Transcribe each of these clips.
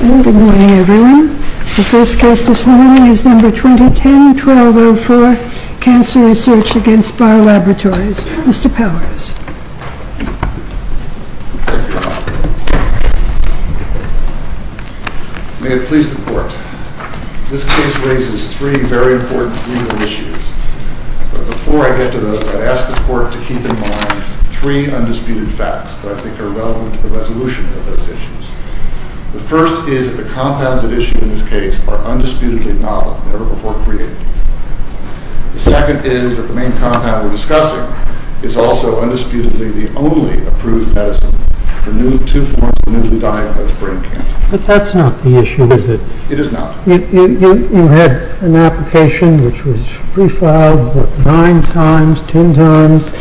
Good morning everyone. The first case this morning is No. 2010-1204, Cancer Research against Barr Laboratories. Mr. Powers. May it please the Court. This case raises three very important legal issues. But before I get to those, I'd ask the Court to keep in mind three undisputed facts that I think are relevant to the resolution of those issues. The first is that the compounds at issue in this case are undisputedly novel, never before created. The second is that the main compound we're discussing is also undisputedly the only approved medicine for two forms of newly diagnosed brain cancer. But that's not the issue, is it? It is not. You had an application which was prefiled nine times, ten times,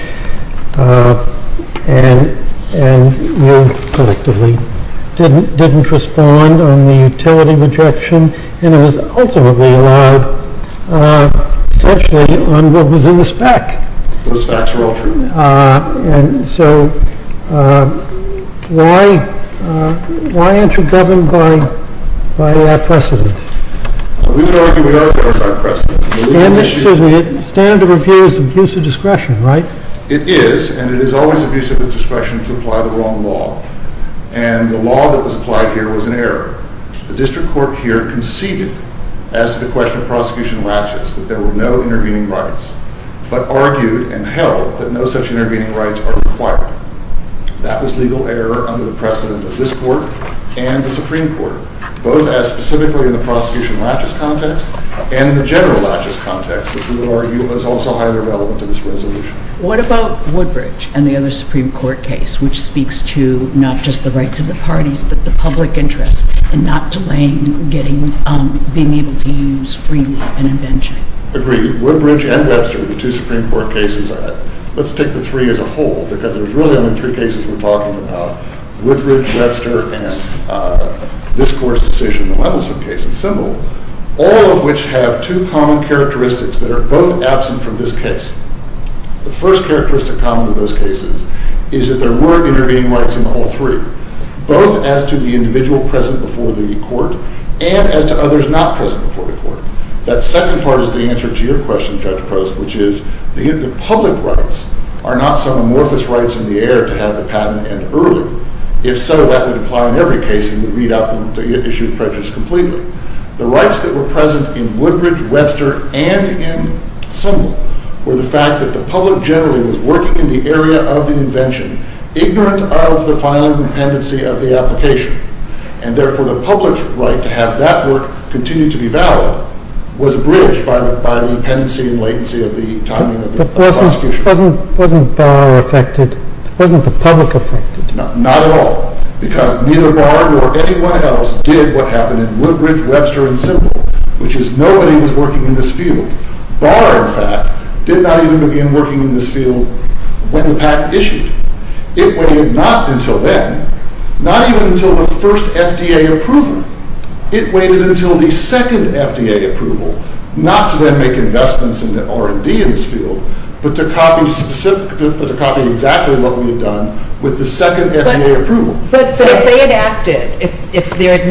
and you collectively didn't respond on the utility rejection. And it was ultimately allowed, essentially, on what was in the spec. Those facts were all true. So why aren't you governed by precedent? We would argue we are governed by precedent. The standard of review is abuse of discretion, right? It is, and it is always abuse of discretion to apply the wrong law. And the law that was applied here was an error. The district court here conceded, as to the question of prosecution latches, that there were no intervening rights, but argued and held that no such intervening rights are required. That was legal error under the precedent of this court and the Supreme Court, both as specifically in the prosecution latches context and in the general latches context, which we would argue is also highly relevant to this resolution. What about Woodbridge and the other Supreme Court case, which speaks to not just the rights of the parties, but the public interest in not delaying being able to use freely an invention? Agreed. Woodbridge and Webster, the two Supreme Court cases, let's take the three as a whole, because there's really only three cases we're talking about, Woodbridge, Webster, and this court's decision, the Levinson case. It's simple. All of which have two common characteristics that are both absent from this case. The first characteristic common to those cases is that there were intervening rights in all three, both as to the individual present before the court and as to others not present before the court. That second part is the answer to your question, Judge Prost, which is the public rights are not some amorphous rights in the air to have the patent end early. If so, that would apply in every case and would read out the issued prejudice completely. The rights that were present in Woodbridge, Webster, and in Sumner were the fact that the public generally was working in the area of the invention, ignorant of the final dependency of the application, and therefore the public's right to have that work continue to be valid was bridged by the dependency and latency of the timing of the prosecution. But wasn't Barr affected? Wasn't the public affected? Not at all, because neither Barr nor anyone else did what happened in Woodbridge, Webster, and Sumner, which is nobody was working in this field. Barr, in fact, did not even begin working in this field when the patent issued. It waited not until then, not even until the first FDA approval. It waited until the second FDA approval, not to then make investments in R&D in this field, but to copy exactly what we had done with the second FDA approval. But if they had acted, if they had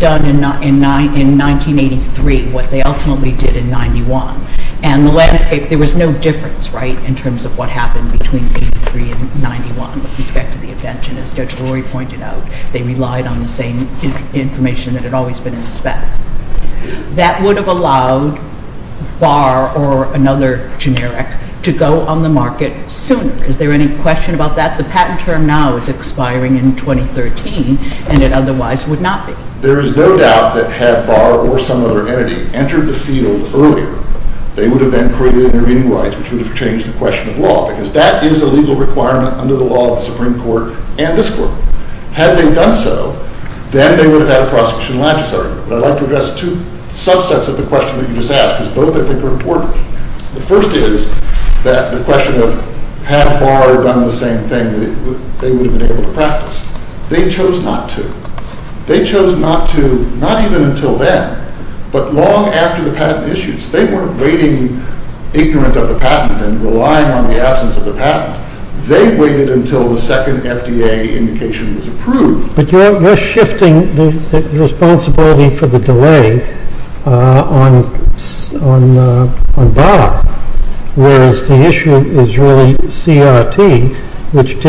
done in 1983 what they ultimately did in 91, and the landscape, there was no difference, right, in terms of what happened between 1983 and 91 with respect to the invention, as Judge Lurie pointed out. They relied on the same information that had always been in the spec. That would have allowed Barr or another generic to go on the market sooner. Is there any question about that? The patent term now is expiring in 2013, and it otherwise would not be. There is no doubt that had Barr or some other entity entered the field earlier, they would have then created intervening rights, which would have changed the question of law, because that is a legal requirement under the law of the Supreme Court and this Court. Had they done so, then they would have had a prosecution legislature. But I'd like to address two subsets of the question that you just asked, because both, I think, are important. The first is that the question of had Barr done the same thing, they would have been able to practice. They chose not to. They chose not to, not even until then, but long after the patent issues. They weren't waiting ignorant of the patent and relying on the absence of the patent. They waited until the second FDA indication was approved. But you're shifting the responsibility for the delay on Barr, whereas the issue is really CRT, which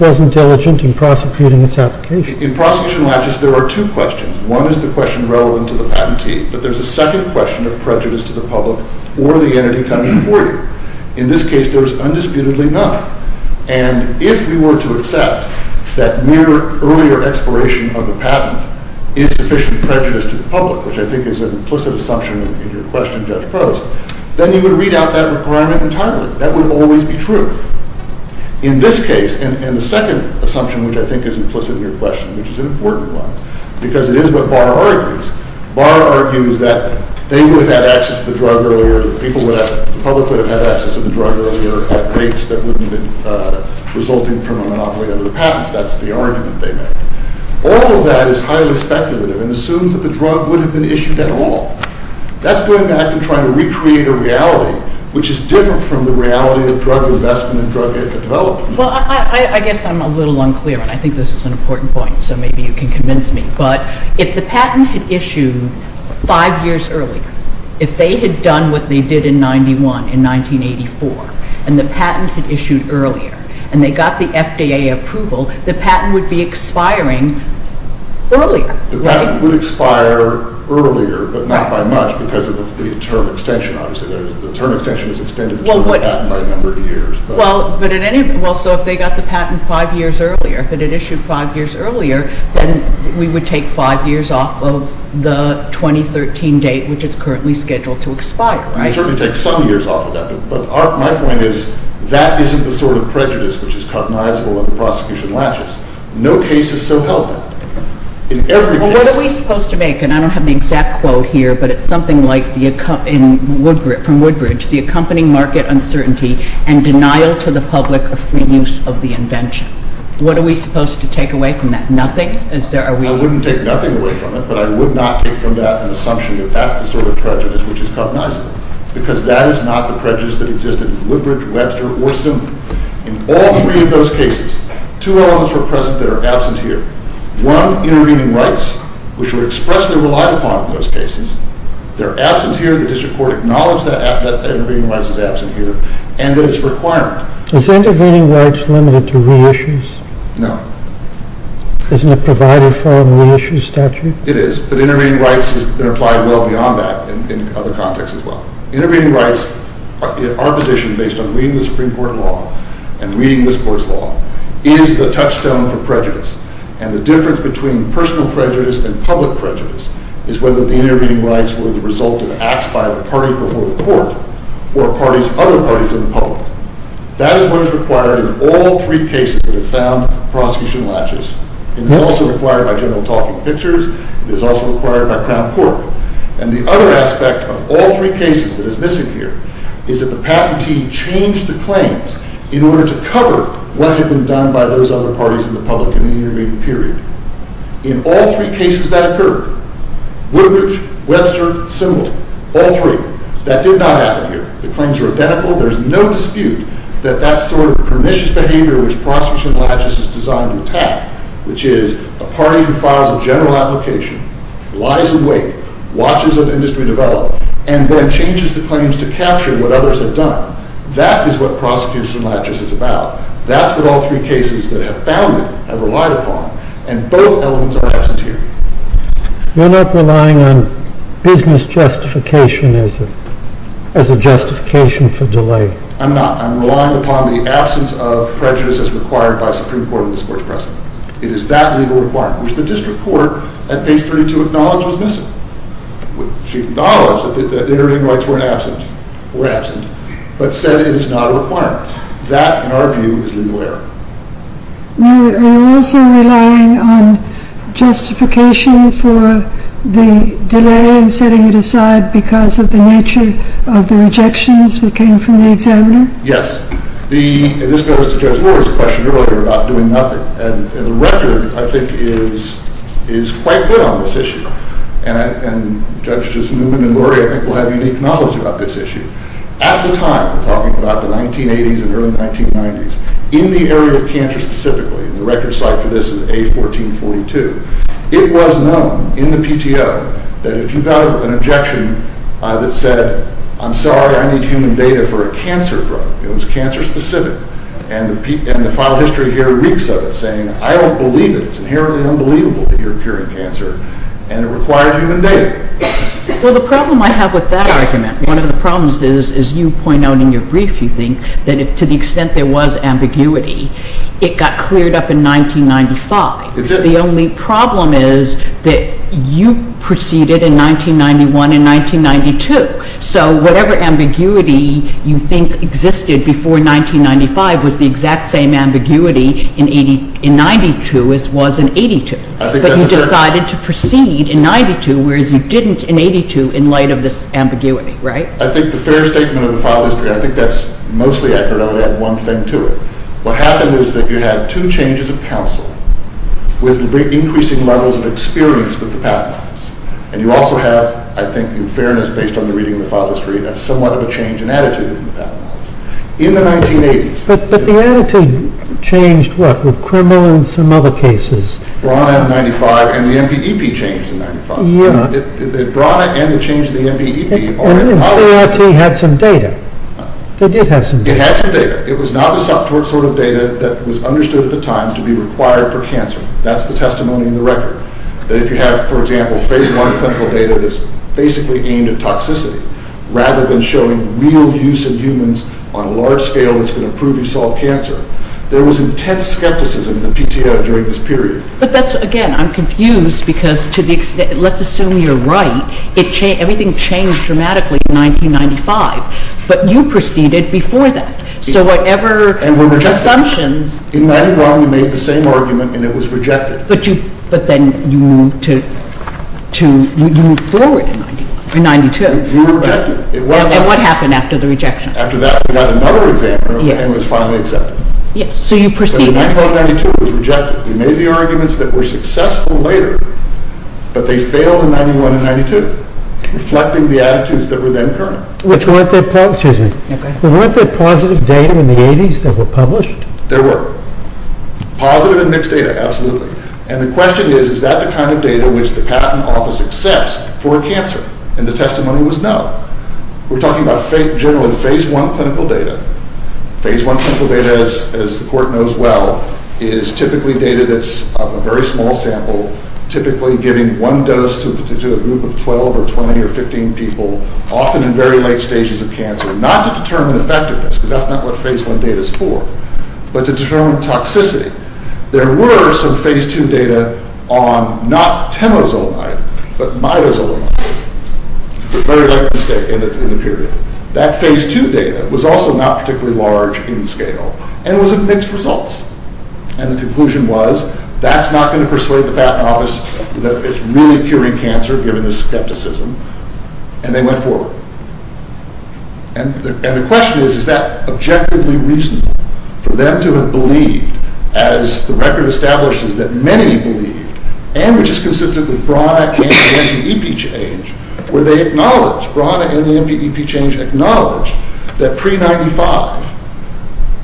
wasn't diligent in prosecuting its application. In prosecution latches, there are two questions. One is the question relevant to the patentee, but there's a second question of prejudice to the public or the entity coming before you. In this case, there is undisputedly none. And if we were to accept that mere earlier expiration of the patent is sufficient prejudice to the public, which I think is an implicit assumption in your question, Judge Prost, then you would read out that requirement entirely. That would always be true. In this case, and the second assumption, which I think is implicit in your question, which is an important one, because it is what Barr argues, Barr argues that they would have had access to the drug earlier, the public would have had access to the drug earlier, at rates that wouldn't have been resulting from a monopoly over the patents. That's the argument they made. All of that is highly speculative and assumes that the drug would have been issued at all. That's going back and trying to recreate a reality, which is different from the reality of drug investment and drug development. Well, I guess I'm a little unclear, and I think this is an important point, so maybe you can convince me, but if the patent had issued five years earlier, if they had done what they did in 1991, in 1984, and the patent had issued earlier, and they got the FDA approval, the patent would be expiring earlier, right? The patent would expire earlier, but not by much because of the term extension, obviously. The term extension is extended to the term of patent by a number of years. Well, so if they got the patent five years earlier, if it had issued five years earlier, then we would take five years off of the 2013 date, which it's currently scheduled to expire, right? We certainly take some years off of that, but my point is that isn't the sort of prejudice which is cognizable and the prosecution latches. No case is so healthy. Well, what are we supposed to make? And I don't have the exact quote here, but it's something like from Woodbridge, the accompanying market uncertainty and denial to the public of free use of the invention. What are we supposed to take away from that? Nothing? I wouldn't take nothing away from it, but I would not take from that an assumption that that's the sort of prejudice which is cognizable because that is not the prejudice that existed in Woodbridge, Webster, or Sumner. In all three of those cases, two elements were present that are absent here. One, intervening rights, which were expressly relied upon in those cases. They're absent here. The district court acknowledged that intervening rights is absent here and that it's a requirement. Is intervening rights limited to reissues? No. Isn't it provided for in the reissue statute? It is, but intervening rights has been applied well beyond that in other contexts as well. Intervening rights in our position based on reading the Supreme Court law and reading this court's law is the touchstone for prejudice. And the difference between personal prejudice and public prejudice is whether the intervening rights were the result of acts by the party before the court or other parties in the public. That is what is required in all three cases that have found prosecution latches. It is also required by general talking pictures. It is also required by Crown Court. And the other aspect of all three cases that is missing here is that the patentee changed the claims in order to cover what had been done by those other parties in the public in the intervening period. In all three cases that occurred, Woodbridge, Webster, Simmel, all three, that did not happen here. The claims are identical. There's no dispute that that sort of pernicious behavior which prosecution latches is designed to attack, which is a party who files a general application, lies awake, watches an industry develop, and then changes the claims to capture what others have done. That is what prosecution latches is about. That's what all three cases that have found it have relied upon. And both elements are absent here. You're not relying on business justification as a justification for delay. I'm not. I'm relying upon the absence of prejudice as required by Supreme Court in this Court's precedent. It is that legal requirement, which the district court at page 32 acknowledged was missing, which acknowledged that the intervening rights were absent, but said it is not a requirement. That, in our view, is legal error. Are you also relying on justification for the delay and setting it aside because of the nature of the rejections that came from the examiner? Yes. This goes to Judge Lurie's question earlier about doing nothing. And the record, I think, is quite good on this issue. And Judges Newman and Lurie, I think, will have unique knowledge about this issue. At the time, talking about the 1980s and early 1990s, in the area of cancer specifically, and the record site for this is A1442, it was known in the PTO that if you got an objection that said, I'm sorry, I need human data for a cancer drug. It was cancer specific. And the file history here reeks of it, saying, I don't believe it. It's inherently unbelievable that you're curing cancer. And it required human data. Well, the problem I have with that argument, one of the problems is, as you point out in your brief, you think, that to the extent there was ambiguity, it got cleared up in 1995. It did. The only problem is that you proceeded in 1991 and 1992. So whatever ambiguity you think existed before 1995 was the exact same ambiguity in 92 as was in 82. But you decided to proceed in 92, whereas you didn't in 82 in light of this ambiguity, right? I think the fair statement of the file history, I think that's mostly accurate. I would add one thing to it. What happened is that you had two changes of counsel with increasing levels of experience with the Patent Office. And you also have, I think in fairness based on the reading of the file history, a somewhat of a change in attitude in the Patent Office. In the 1980s- But the attitude changed, what, with Cremona and some other cases? Brana in 95 and the MPEP changed in 95. Brana and the change in the MPEP- And CRT had some data. They did have some data. It had some data. It was not the sort of data that was understood at the time to be required for cancer. That's the testimony in the record. That if you have, for example, Phase I clinical data that's basically aimed at toxicity, rather than showing real use in humans on a large scale that's going to prove you solve cancer. There was intense skepticism in the PTO during this period. But that's, again, I'm confused because to the extent, let's assume you're right, everything changed dramatically in 1995. But you proceeded before that. So whatever- And were rejected. Assumptions- In 91 we made the same argument and it was rejected. But then you moved forward in 92. You were rejected. And what happened after the rejection? After that we got another examiner and it was finally accepted. So you proceeded. So in 1992 it was rejected. We made the arguments that were successful later, but they failed in 91 and 92, reflecting the attitudes that were then current. Which weren't the- Excuse me. Okay. Weren't there positive data in the 80s that were published? There were. Positive and mixed data, absolutely. And the question is, is that the kind of data which the patent office accepts for cancer? And the testimony was no. We're talking about generally Phase I clinical data. Phase I clinical data, as the court knows well, is typically data that's a very small sample, typically giving one dose to a group of 12 or 20 or 15 people, often in very late stages of cancer. Not to determine effectiveness, because that's not what Phase I data is for, but to determine toxicity. There were some Phase II data on not temozolomide, but midozolomide. Very likely mistake in the period. That Phase II data was also not particularly large in scale and was of mixed results. And the conclusion was that's not going to persuade the patent office that it's really curing cancer, given the skepticism. And they went forward. And the question is, is that objectively reasonable for them to have believed, as the record establishes, that many believed, and which is consistent with Brauna and the MPEP change, where Brauna and the MPEP change acknowledged that pre-'95,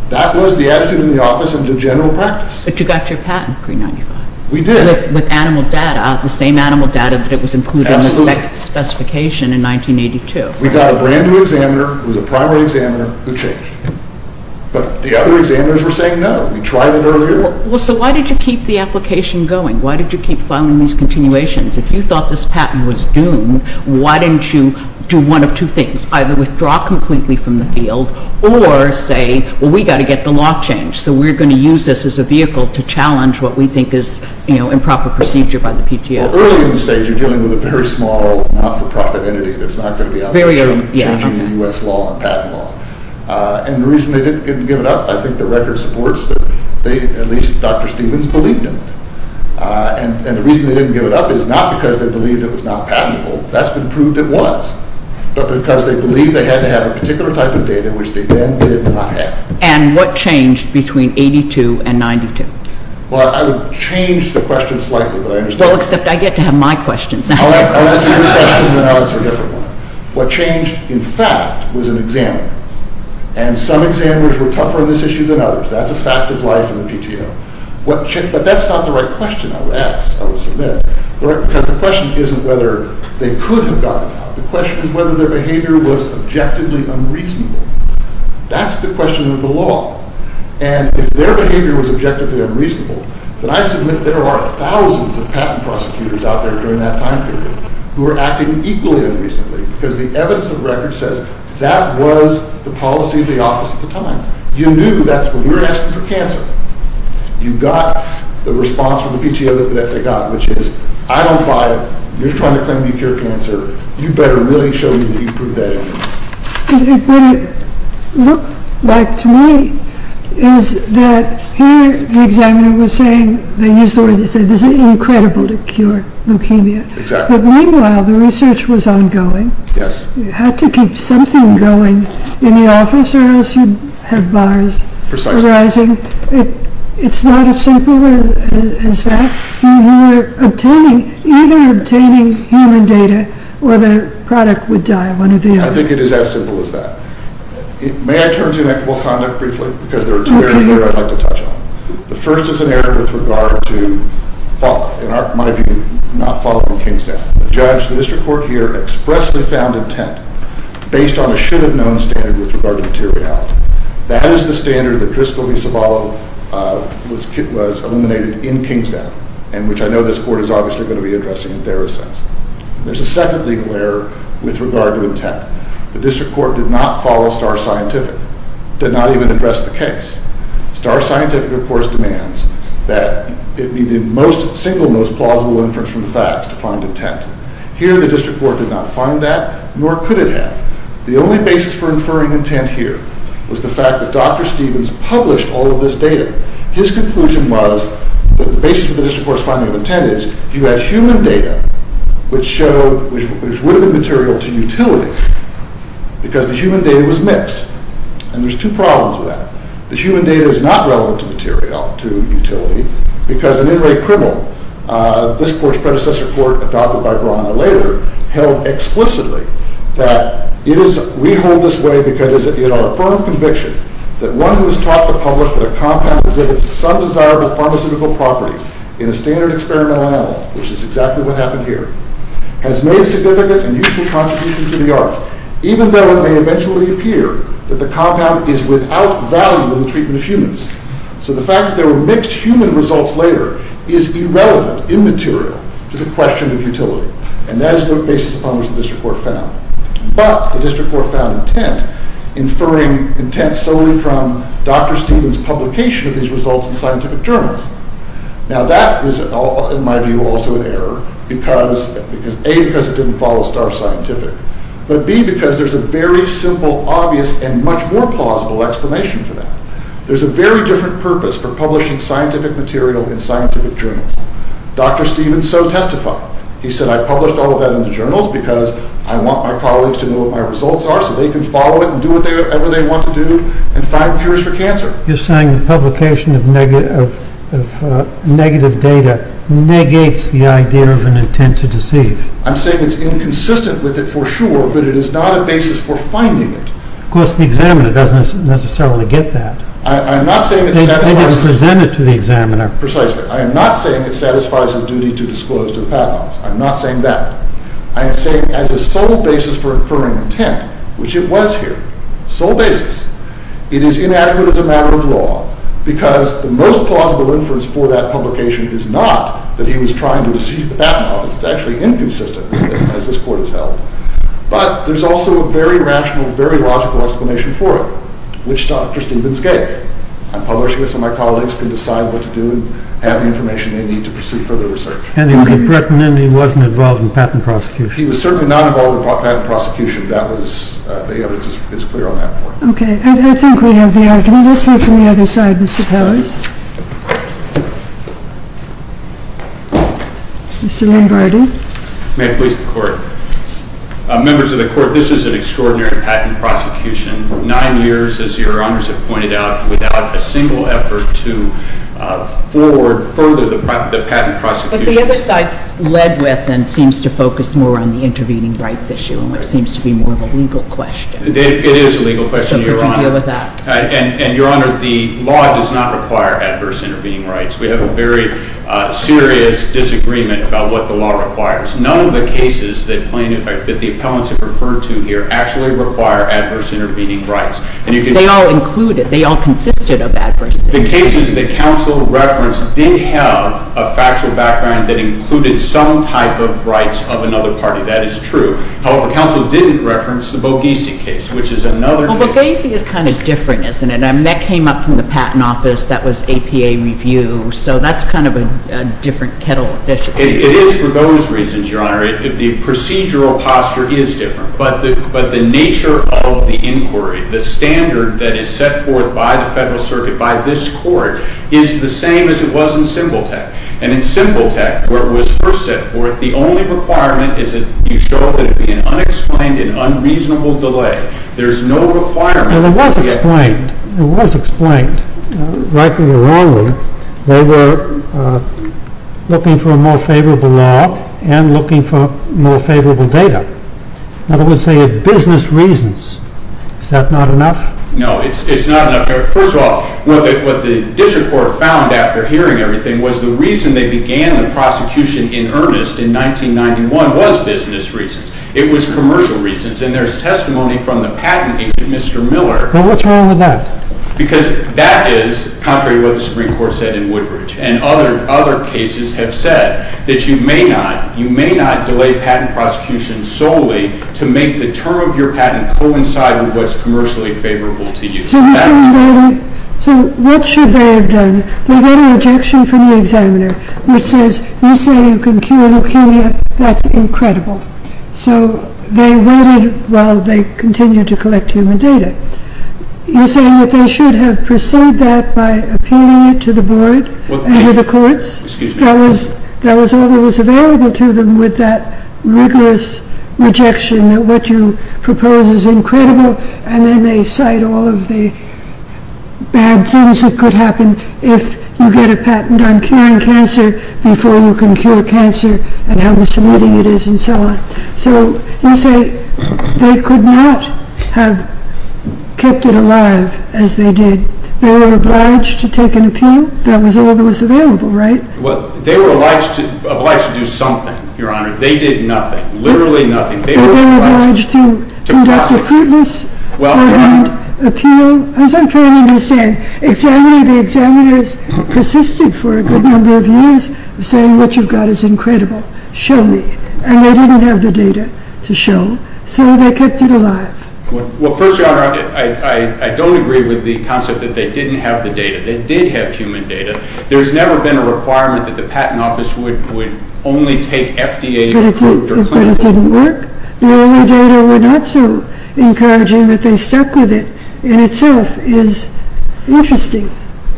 that was the attitude in the office and the general practice. But you got your patent pre-'95. We did. With animal data, the same animal data that was included in the specification in 1982. We got a brand-new examiner who was a primary examiner who changed. But the other examiners were saying no. We tried it earlier. Well, so why did you keep the application going? Why did you keep filing these continuations? If you thought this patent was doomed, why didn't you do one of two things, either withdraw completely from the field or say, well, we've got to get the law changed, so we're going to use this as a vehicle to challenge what we think is improper procedure by the PTO. Well, early in the stage, you're dealing with a very small not-for-profit entity that's not going to be out there changing the U.S. law and patent law. And the reason they didn't give it up, I think the record supports, at least Dr. Stevens believed in it. And the reason they didn't give it up is not because they believed it was not patentable. That's been proved it was. But because they believed they had to have a particular type of data, which they then did not have. And what changed between 1982 and 1992? Well, I would change the question slightly, but I understand. Well, except I get to have my questions. I'll answer your question, and then I'll answer a different one. What changed, in fact, was an examiner. And some examiners were tougher on this issue than others. That's a fact of life in the PTO. But that's not the right question I would ask, I would submit, because the question isn't whether they could have gotten it out. The question is whether their behavior was objectively unreasonable. That's the question of the law. And if their behavior was objectively unreasonable, then I submit there are thousands of patent prosecutors out there during that time period who are acting equally unreasonably because the evidence of record says that was the policy of the office at the time. You knew that's when you were asking for cancer. You got the response from the PTO that they got, which is, I don't buy it. You're trying to claim you cure cancer. You better really show me that you proved that evidence. What it looked like to me is that here the examiner was saying, they used the word they said, this is incredible to cure leukemia. But meanwhile, the research was ongoing. You had to keep something going in the office or else you'd have bars arising. It's not as simple as that. You were either obtaining human data or the product would die, one or the other. I think it is as simple as that. May I turn to inequitable conduct briefly? Because there are two areas I'd like to touch on. The first is an error with regard to follow. In my view, not following Kingstown. The judge, the district court here, expressly found intent based on a should-have-known standard with regard to materiality. That is the standard that Driscoll v. Ciavallo was eliminated in Kingstown, and which I know this court is obviously going to be addressing in TheraSense. There's a second legal error with regard to intent. The district court did not follow Starr Scientific, did not even address the case. Starr Scientific, of course, demands that it be the single most plausible inference from the facts to find intent. Here the district court did not find that, nor could it have. The only basis for inferring intent here was the fact that Dr. Stevens published all of this data. His conclusion was that the basis for the district court's finding of intent is you had human data, which would have been material to utility, because the human data was mixed. And there's two problems with that. The human data is not relevant to utility, because an in-rate criminal, this court's predecessor court, adopted by Brawner later, held explicitly that we hold this way because it is our firm conviction that one who has taught the public that a compound exhibits some desirable pharmaceutical property in a standard experimental animal, which is exactly what happened here, has made a significant and useful contribution to the art, even though it may eventually appear that the compound is without value in the treatment of humans. So the fact that there were mixed human results later is irrelevant, immaterial, to the question of utility. And that is the basis upon which the district court found. But the district court found intent, inferring intent solely from Dr. Stevens' publication of these results in scientific journals. Now that is, in my view, also an error, A, because it didn't follow Star Scientific, but B, because there's a very simple, obvious, and much more plausible explanation for that. There's a very different purpose for publishing scientific material in scientific journals. Dr. Stevens so testified. He said, I published all of that in the journals because I want my colleagues to know what my results are so they can follow it and do whatever they want to do and find cures for cancer. You're saying the publication of negative data negates the idea of an intent to deceive. I'm saying it's inconsistent with it for sure, but it is not a basis for finding it. Of course, the examiner doesn't necessarily get that. I'm not saying it satisfies... They didn't present it to the examiner. Precisely. I am not saying it satisfies his duty to disclose to the patent office. I'm not saying that. I am saying, as a sole basis for inferring intent, which it was here, sole basis, it is inadequate as a matter of law, because the most plausible inference for that publication is not that he was trying to deceive the patent office. It's actually inconsistent with it, as this court has held. But there's also a very rational, very logical explanation for it, which Dr. Stevens gave. I'm publishing this so my colleagues can decide what to do and have the information they need to pursue further research. And he was in Britain, and he wasn't involved in patent prosecution. He was certainly not involved in patent prosecution. The evidence is clear on that point. Okay. I think we have the argument. Let's hear from the other side, Mr. Powers. Mr. Ringgarden. May it please the Court. Members of the Court, this is an extraordinary patent prosecution. Nine years, as Your Honors have pointed out, without a single effort to forward further the patent prosecution. But the other side's led with and seems to focus more on the intervening rights issue, which seems to be more of a legal question. It is a legal question, Your Honor. So how do you deal with that? And, Your Honor, the law does not require adverse intervening rights. We have a very serious disagreement about what the law requires. None of the cases that the appellants have referred to here actually require adverse intervening rights. They all included, they all consisted of adverse intervening rights. The cases that counsel referenced did have a factual background that included some type of rights of another party. That is true. However, counsel didn't reference the Bogiesi case, which is another case. Well, Bogiesi is kind of different, isn't it? I mean, that came up from the Patent Office. That was APA review. So that's kind of a different kettle of fish. It is for those reasons, Your Honor. The procedural posture is different. But the nature of the inquiry, the standard that is set forth by the Federal Circuit, by this Court, is the same as it was in Simbaltec. And in Simbaltec, where it was first set forth, the only requirement is that you show that it be an unexplained and unreasonable delay. There is no requirement. And it was explained. It was explained. Rightly or wrongly, they were looking for a more favorable law and looking for more favorable data. In other words, they had business reasons. Is that not enough? No, it's not enough. First of all, what the district court found after hearing everything was the reason they began the prosecution in earnest in 1991 was business reasons. It was commercial reasons. And there's testimony from the patent agent, Mr. Miller. Well, what's wrong with that? Because that is contrary to what the Supreme Court said in Woodbridge. And other cases have said that you may not delay patent prosecution solely to make the term of your patent coincide with what's commercially favorable to you. So what should they have done? They got a rejection from the examiner, which says, you say you can cure leukemia. That's incredible. So they waited while they continued to collect human data. You're saying that they should have pursued that by appealing it to the board and to the courts? That was all that was available to them with that rigorous rejection that what you propose is incredible, and then they cite all of the bad things that could happen if you get a patent on curing cancer before you can cure cancer and how misleading it is and so on. So you say they could not have kept it alive as they did. They were obliged to take an appeal? That was all that was available, right? Well, they were obliged to do something, Your Honor. They did nothing. Literally nothing. They were obliged to conduct a fruitless ordered appeal? As I'm trying to understand, the examiners persisted for a good number of years saying what you've got is incredible. Show me. And they didn't have the data to show, so they kept it alive. Well, first, Your Honor, I don't agree with the concept that they didn't have the data. They did have human data. There's never been a requirement that the Patent Office would only take FDA-approved or clinical. But it didn't work? The only data were not so encouraging that they stuck with it, and itself is interesting.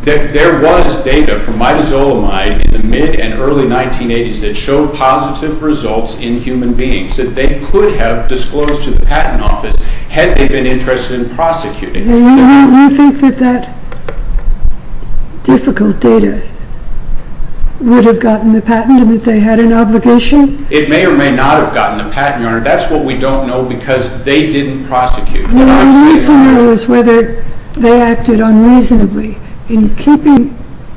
There was data from mitozolemide in the mid and early 1980s that showed positive results in human beings that they could have disclosed to the Patent Office had they been interested in prosecuting. You think that that difficult data would have gotten the patent and that they had an obligation? It may or may not have gotten the patent, Your Honor. That's what we don't know because they didn't prosecute. What we need to know is whether they acted unreasonably in keeping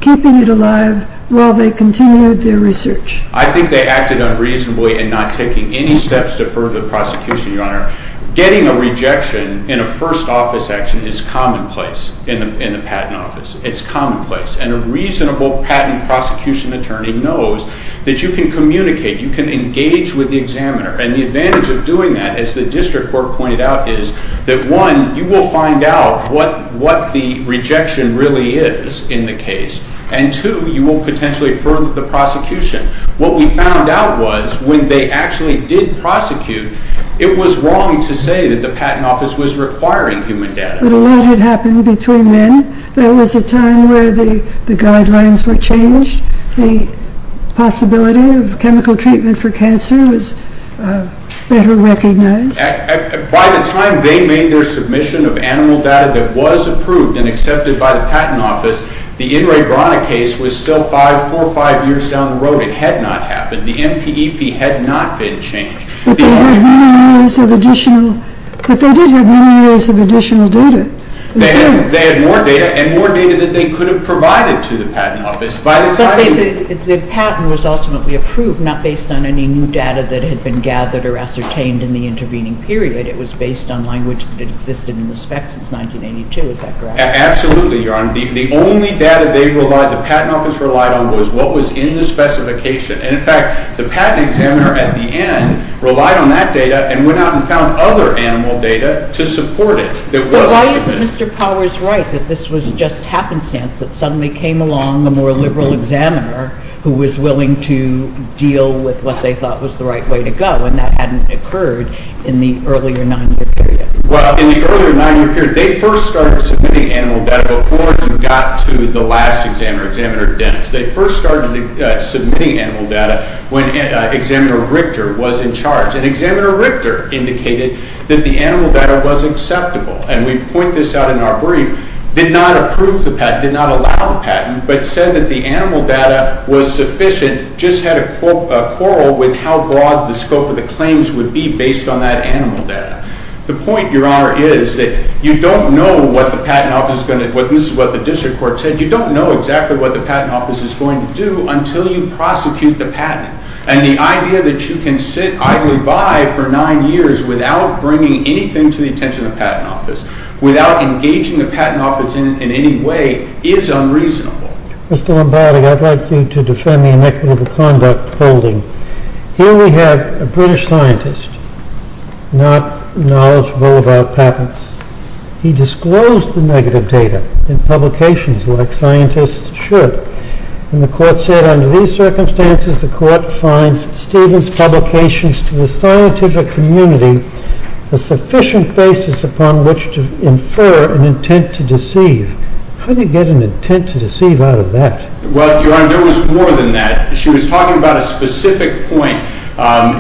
it alive while they continued their research. I think they acted unreasonably in not taking any steps to further the prosecution, Your Honor. Getting a rejection in a first office action is commonplace in the Patent Office. It's commonplace. And a reasonable patent prosecution attorney knows that you can communicate. You can engage with the examiner. And the advantage of doing that, as the district court pointed out, is that, one, you will find out what the rejection really is in the case, and, two, you will potentially further the prosecution. What we found out was when they actually did prosecute, it was wrong to say that the Patent Office was requiring human data. But a lot had happened between then. There was a time where the guidelines were changed. The possibility of chemical treatment for cancer was better recognized. By the time they made their submission of animal data that was approved and accepted by the Patent Office, the In re Brana case was still four or five years down the road. It had not happened. The MPEP had not been changed. But they did have many years of additional data. They had more data and more data that they could have provided to the Patent Office. But the patent was ultimately approved not based on any new data that had been gathered or ascertained in the intervening period. It was based on language that had existed in the specs since 1982. Is that correct? Absolutely, Your Honor. The only data the Patent Office relied on was what was in the specification. And, in fact, the patent examiner at the end relied on that data and went out and found other animal data to support it. So why isn't Mr. Powers right that this was just happenstance that suddenly came along a more liberal examiner who was willing to deal with what they thought was the right way to go, and that hadn't occurred in the earlier nine-year period? Well, in the earlier nine-year period, they first started submitting animal data before you got to the last examiner, Examiner Dennis. They first started submitting animal data when Examiner Richter was in charge. And Examiner Richter indicated that the animal data was acceptable, and we point this out in our brief, did not approve the patent, did not allow the patent, but said that the animal data was sufficient, just had a quarrel with how broad the scope of the claims would be based on that animal data. The point, Your Honor, is that you don't know what the Patent Office is going to, and this is what the district court said, you don't know exactly what the Patent Office is going to do until you prosecute the patent. And the idea that you can sit idly by for nine years without bringing anything to the attention of the Patent Office, without engaging the Patent Office in any way, is unreasonable. Mr. Lombardi, I'd like you to defend the inequitable conduct holding. Here we have a British scientist, not knowledgeable about patents. He disclosed the negative data in publications like scientists should. And the court said, under these circumstances, the court finds Stephen's publications to the scientific community a sufficient basis upon which to infer an intent to deceive. How do you get an intent to deceive out of that? Well, Your Honor, there was more than that. She was talking about a specific point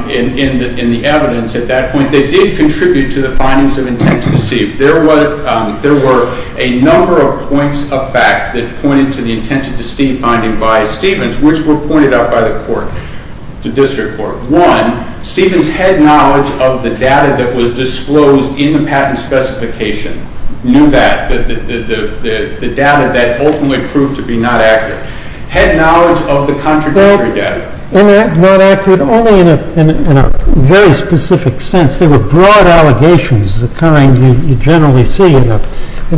in the evidence at that point that did contribute to the findings of intent to deceive. There were a number of points of fact that pointed to the intent to deceive finding by Stephens, which were pointed out by the court, the district court. One, Stephens had knowledge of the data that was disclosed in the patent specification, knew that, the data that ultimately proved to be not accurate. Had knowledge of the contradictory data. Not accurate only in a very specific sense. There were broad allegations of the kind you generally see in a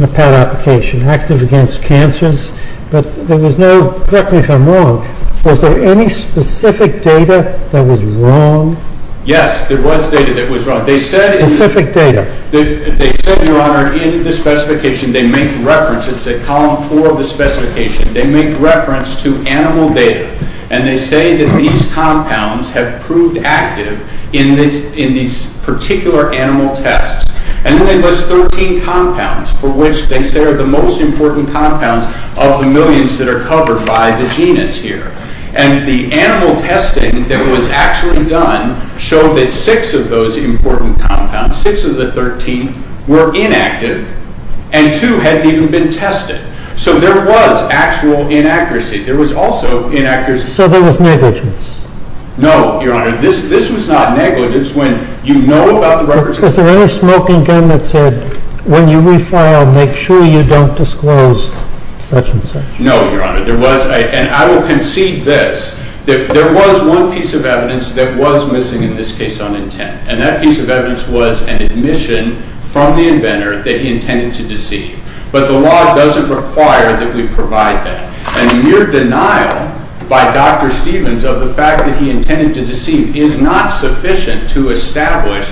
patent application. Active against cancers. But there was no, correct me if I'm wrong, was there any specific data that was wrong? Yes, there was data that was wrong. Specific data. They said, Your Honor, in the specification, they make reference, it's at column four of the specification, they make reference to animal data. And they say that these compounds have proved active in these particular animal tests. And then they list 13 compounds for which they say are the most important compounds of the millions that are covered by the genus here. And the animal testing that was actually done showed that six of those important compounds, six of the 13, were inactive, and two hadn't even been tested. So there was actual inaccuracy. There was also inaccuracy. So there was negligence? No, Your Honor. This was not negligence when you know about the records. Was there any smoking gun that said, when you refile, make sure you don't disclose such and such? No, Your Honor. And I will concede this. There was one piece of evidence that was missing in this case on intent. And that piece of evidence was an admission from the inventor that he intended to deceive. But the law doesn't require that we provide that. And the mere denial by Dr. Stevens of the fact that he intended to deceive is not sufficient to establish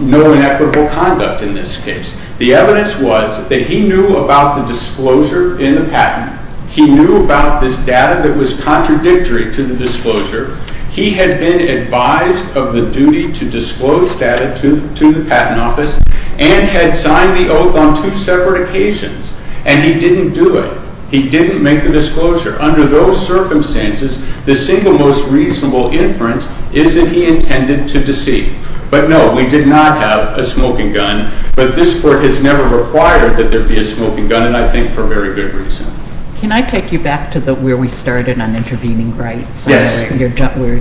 no inequitable conduct in this case. The evidence was that he knew about the disclosure in the patent. He knew about this data that was contradictory to the disclosure. He had been advised of the duty to disclose data to the Patent Office and had signed the oath on two separate occasions. And he didn't do it. He didn't make the disclosure. Under those circumstances, the single most reasonable inference is that he intended to deceive. But no, we did not have a smoking gun. But this Court has never required that there be a smoking gun, and I think for very good reason. Can I take you back to where we started on intervening rights? Yes. We're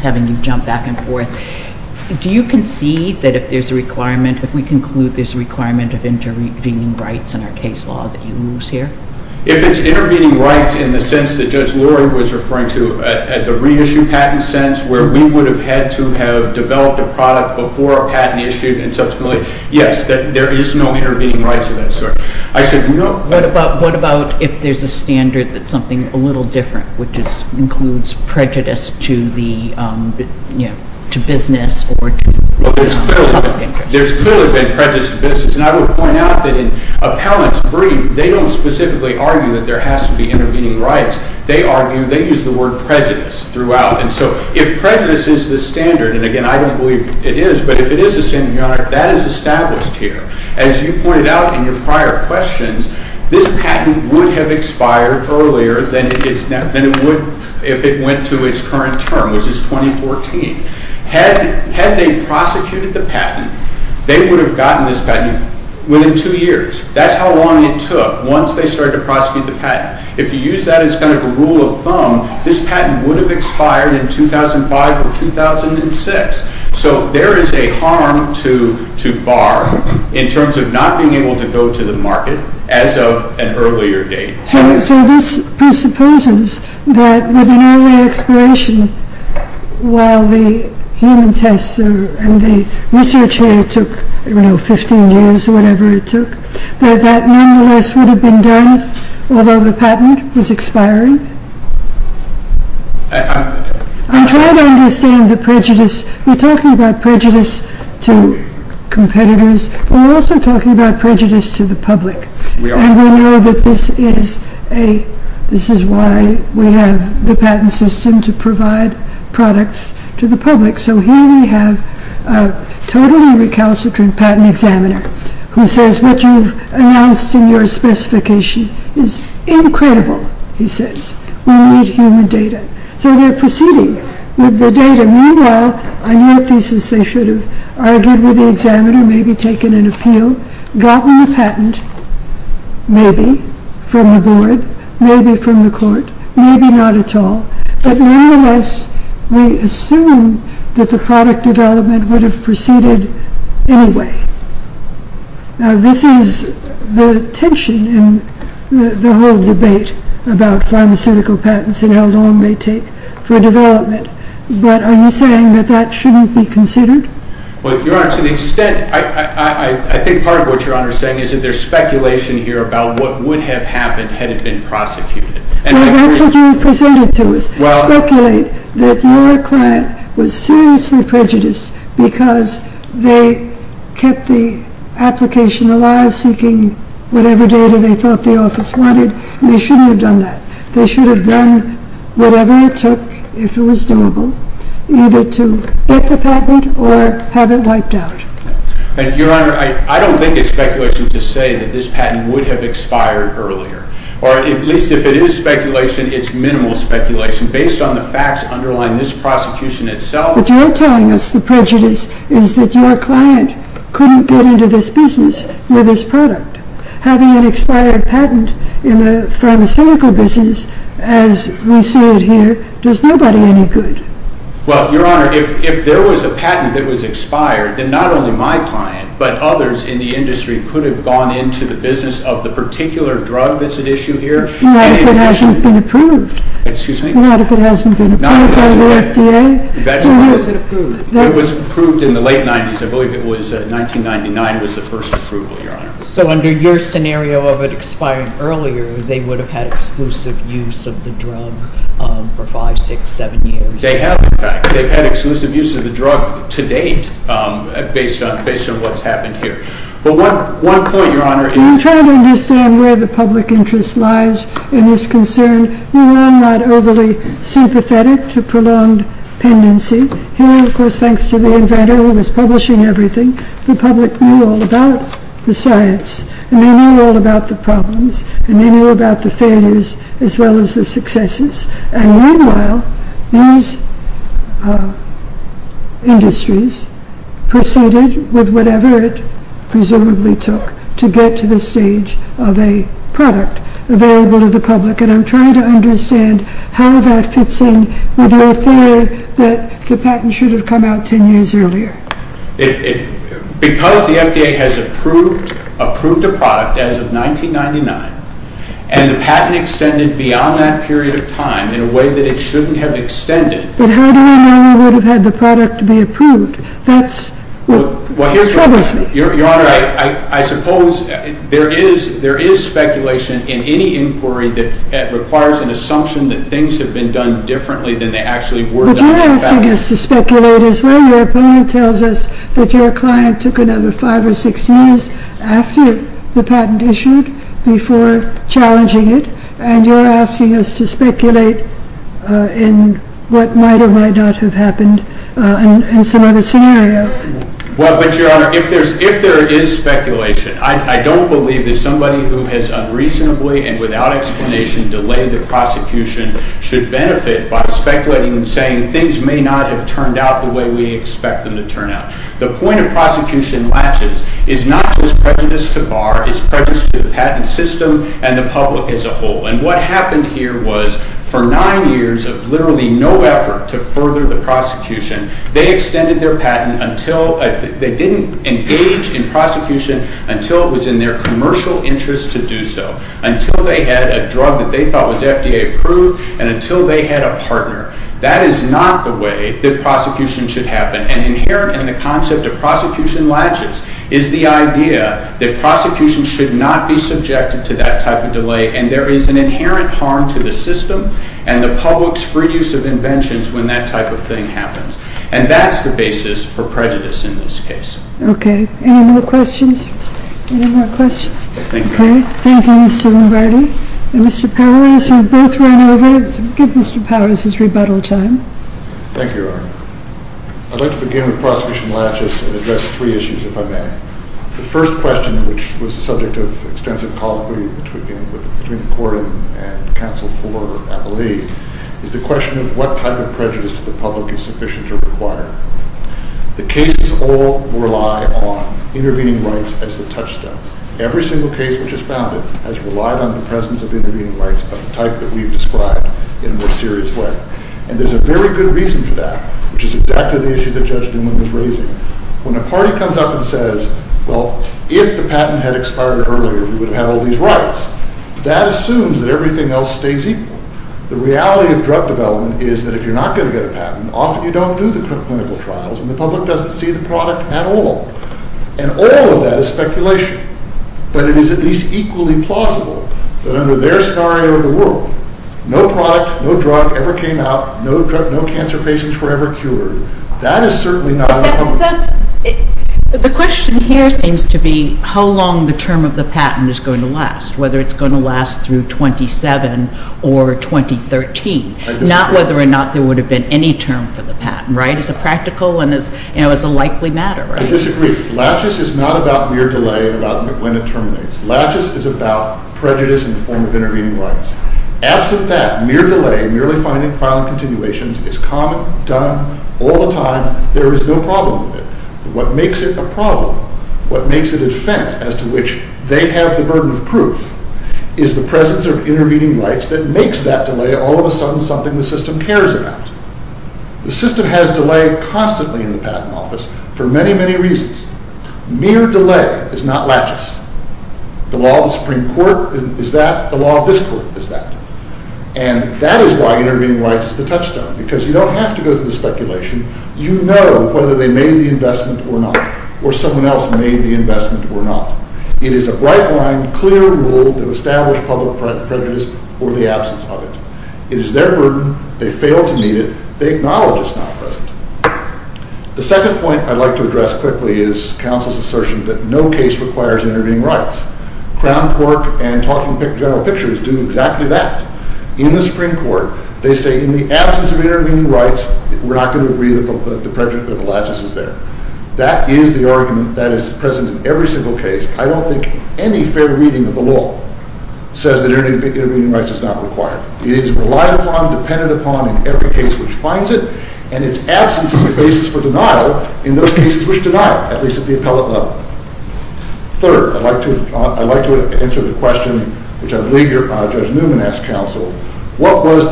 having you jump back and forth. Do you concede that if there's a requirement, if we conclude there's a requirement of intervening rights in our case law that you lose here? If it's intervening rights in the sense that Judge Lord was referring to, at the reissue patent sense where we would have had to have developed a product before a patent issued and subsequently, yes, there is no intervening rights of that sort. I said no. What about if there's a standard that's something a little different, which includes prejudice to business or to public interest? Well, there's clearly been prejudice to business, and I would point out that in Appellant's brief, they don't specifically argue that there has to be intervening rights. They argue they use the word prejudice throughout. And so if prejudice is the standard, and again, I don't believe it is, but if it is the standard, Your Honor, that is established here. As you pointed out in your prior questions, this patent would have expired earlier than it would if it went to its current term, which is 2014. Had they prosecuted the patent, they would have gotten this patent within two years. That's how long it took once they started to prosecute the patent. If you use that as kind of a rule of thumb, this patent would have expired in 2005 or 2006. So there is a harm to Barr in terms of not being able to go to the market as of an earlier date. So this presupposes that with an early expiration, while the human tests and the research here took, I don't know, 15 years or whatever it took, that that nonetheless would have been done, although the patent was expiring? I'm trying to understand the prejudice. We're talking about prejudice to competitors, but we're also talking about prejudice to the public. And we know that this is why we have the patent system to provide products to the public. So here we have a totally recalcitrant patent examiner who says what you've announced in your specification is incredible, he says. We need human data. So they're proceeding with the data. Meanwhile, on your thesis, they should have argued with the examiner, gotten the patent, maybe, from the board, maybe from the court, maybe not at all. But nonetheless, we assume that the product development would have proceeded anyway. Now this is the tension in the whole debate about pharmaceutical patents and how long they take for development. But are you saying that that shouldn't be considered? Well, Your Honor, to the extent, I think part of what Your Honor is saying is that there's speculation here about what would have happened had it been prosecuted. Well, that's what you presented to us. Speculate that your client was seriously prejudiced because they kept the application alive, seeking whatever data they thought the office wanted. They shouldn't have done that. They should have done whatever it took, if it was doable, either to get the patent or have it wiped out. Your Honor, I don't think it's speculation to say that this patent would have expired earlier. Or at least if it is speculation, it's minimal speculation based on the facts underlying this prosecution itself. What you're telling us, the prejudice, is that your client couldn't get into this business with this product. Having an expired patent in the pharmaceutical business, as we see it here, does nobody any good. Well, Your Honor, if there was a patent that was expired, then not only my client but others in the industry could have gone into the business of the particular drug that's at issue here. Not if it hasn't been approved. Excuse me? Not if it hasn't been approved by the FDA. So how is it approved? It was approved in the late 90s. I believe it was 1999 was the first approval, Your Honor. So under your scenario of it expiring earlier, they would have had exclusive use of the drug for five, six, seven years. They have, in fact. They've had exclusive use of the drug to date based on what's happened here. But one point, Your Honor, is— We tried to understand where the public interest lies in this concern. We were not overly sympathetic to prolonged pendency. And, of course, thanks to the inventor who was publishing everything, the public knew all about the science. And they knew all about the problems. And they knew about the failures as well as the successes. And meanwhile, these industries proceeded with whatever it presumably took to get to the stage of a product available to the public. And I'm trying to understand how that fits in with your theory that the patent should have come out 10 years earlier. Because the FDA has approved a product as of 1999 and the patent extended beyond that period of time in a way that it shouldn't have extended— But how do we know we would have had the product to be approved? That's what troubles me. Your Honor, I suppose there is speculation in any inquiry that requires an assumption that things have been done differently than they actually were done in the past. You're asking us to speculate as well. Your opponent tells us that your client took another 5 or 6 years after the patent issued before challenging it. And you're asking us to speculate in what might or might not have happened in some other scenario. Well, but, Your Honor, if there is speculation, I don't believe that somebody who has unreasonably and without explanation delayed the prosecution should benefit by speculating and saying things may not have turned out the way we expect them to turn out. The point of prosecution latches is not just prejudice to Barr, it's prejudice to the patent system and the public as a whole. And what happened here was for 9 years of literally no effort to further the prosecution, they extended their patent until— they didn't engage in prosecution until it was in their commercial interest to do so. Until they had a drug that they thought was FDA approved and until they had a partner. That is not the way that prosecution should happen. And inherent in the concept of prosecution latches is the idea that prosecution should not be subjected to that type of delay and there is an inherent harm to the system and the public's free use of inventions when that type of thing happens. And that's the basis for prejudice in this case. Okay. Any more questions? Any more questions? Okay. Thank you, Mr. Lombardi. And Mr. Powers, you've both run over, so give Mr. Powers his rebuttal time. Thank you, Your Honor. I'd like to begin with prosecution latches and address three issues, if I may. The first question, which was the subject of extensive colloquy between the court and counsel for, I believe, is the question of what type of prejudice to the public is sufficient or required. The cases all rely on intervening rights as the touchstone. Every single case which is founded has relied on the presence of intervening rights of the type that we've described in a more serious way. And there's a very good reason for that, which is exactly the issue that Judge Newman was raising. When a party comes up and says, well, if the patent had expired earlier, we would have had all these rights, that assumes that everything else stays equal. The reality of drug development is that if you're not going to get a patent, often you don't do the clinical trials and the public doesn't see the product at all. And all of that is speculation. But it is at least equally plausible that under their scenario in the world, no product, no drug ever came out, no cancer patients were ever cured. That is certainly not uncommon. The question here seems to be how long the term of the patent is going to last, whether it's going to last through 2007 or 2013, not whether or not there would have been any term for the patent, right, as a practical and as a likely matter, right? I disagree. Laches is not about mere delay and about when it terminates. Laches is about prejudice in the form of intervening rights. Absent that, mere delay, merely filing continuations is common, done all the time. There is no problem with it. What makes it a problem, what makes it a defense as to which they have the burden of proof, is the presence of intervening rights that makes that delay all of a sudden something the system cares about. The system has delay constantly in the patent office for many, many reasons. Mere delay is not Laches. The law of the Supreme Court is that, the law of this court is that. And that is why intervening rights is the touchstone, because you don't have to go through the speculation. You know whether they made the investment or not, or someone else made the investment or not. It is a bright line, clear rule to establish public prejudice or the absence of it. It is their burden, they fail to meet it, they acknowledge it's not present. The second point I'd like to address quickly is counsel's assertion that no case requires intervening rights. Crown Cork and Talking General Pictures do exactly that. In the Supreme Court, they say in the absence of intervening rights, we're not going to agree that the prejudice of Laches is there. That is the argument that is present in every single case. I don't think any fair reading of the law says that intervening rights is not required. It is relied upon, dependent upon in every case which finds it, and its absence is the basis for denial in those cases which deny it, at least at the appellate level. Third, I'd like to answer the question which I believe Judge Newman asked counsel, what was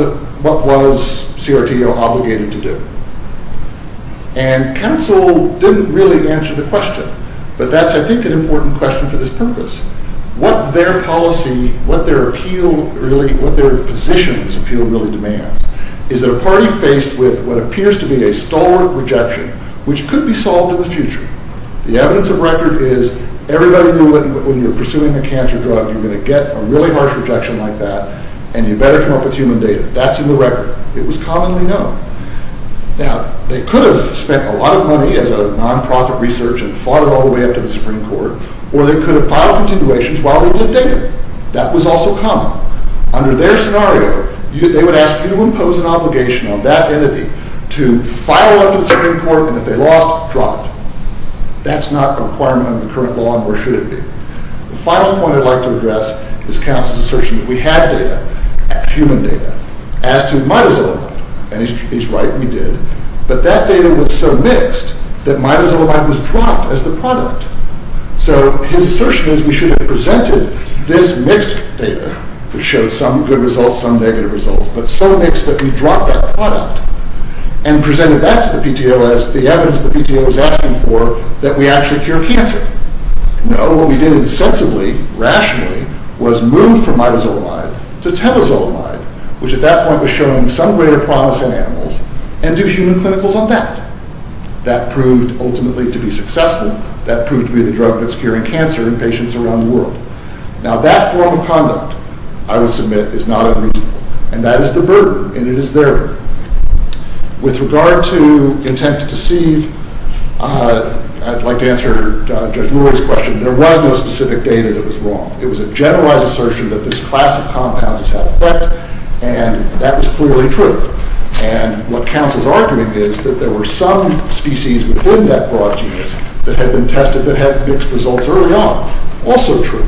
CRTO obligated to do? And counsel didn't really answer the question, but that's I think an important question for this purpose. What their policy, what their appeal really, what their position of this appeal really demands is that a party faced with what appears to be a stalwart rejection, which could be solved in the future. The evidence of record is everybody knew that when you're pursuing a cancer drug, you're going to get a really harsh rejection like that, and you better come up with human data. That's in the record. It was commonly known. Now, they could have spent a lot of money as a non-profit research and fought it all the way up to the Supreme Court, or they could have filed continuations while they did data. That was also common. Under their scenario, they would ask you to impose an obligation on that entity to file one to the Supreme Court, and if they lost, drop it. That's not a requirement under the current law, nor should it be. The final point I'd like to address is counsel's assertion that we had data, human data, as to midazolamide, and he's right, we did, but that data was so mixed that midazolamide was dropped as the product. So his assertion is we should have presented this mixed data, which showed some good results, some negative results, but so mixed that we dropped that product and presented that to the PTO as the evidence the PTO was asking for that we actually cure cancer. No, what we did insensibly, rationally, was move from midazolamide to telozolamide, which at that point was showing some greater promise in animals, and do human clinicals on that. That proved ultimately to be successful. That proved to be the drug that's curing cancer in patients around the world. Now, that form of conduct, I would submit, is not unreasonable, and that is the burden, and it is their burden. With regard to intent to deceive, I'd like to answer Judge Lurie's question. There was no specific data that was wrong. It was a generalized assertion that this class of compounds has had effect, and that was clearly true. And what counsel's arguing is that there were some species within that broad genus that had been tested that had mixed results early on, also true.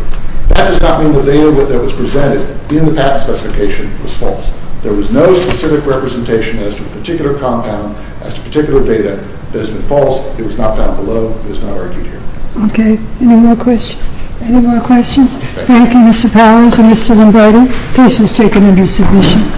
That does not mean the data that was presented in the patent specification was false. There was no specific representation as to a particular compound, as to particular data that has been false. It was not found below. It was not argued here. Okay. Any more questions? Any more questions? Thank you, Mr. Powers and Mr. Lombardi. Case is taken under submission.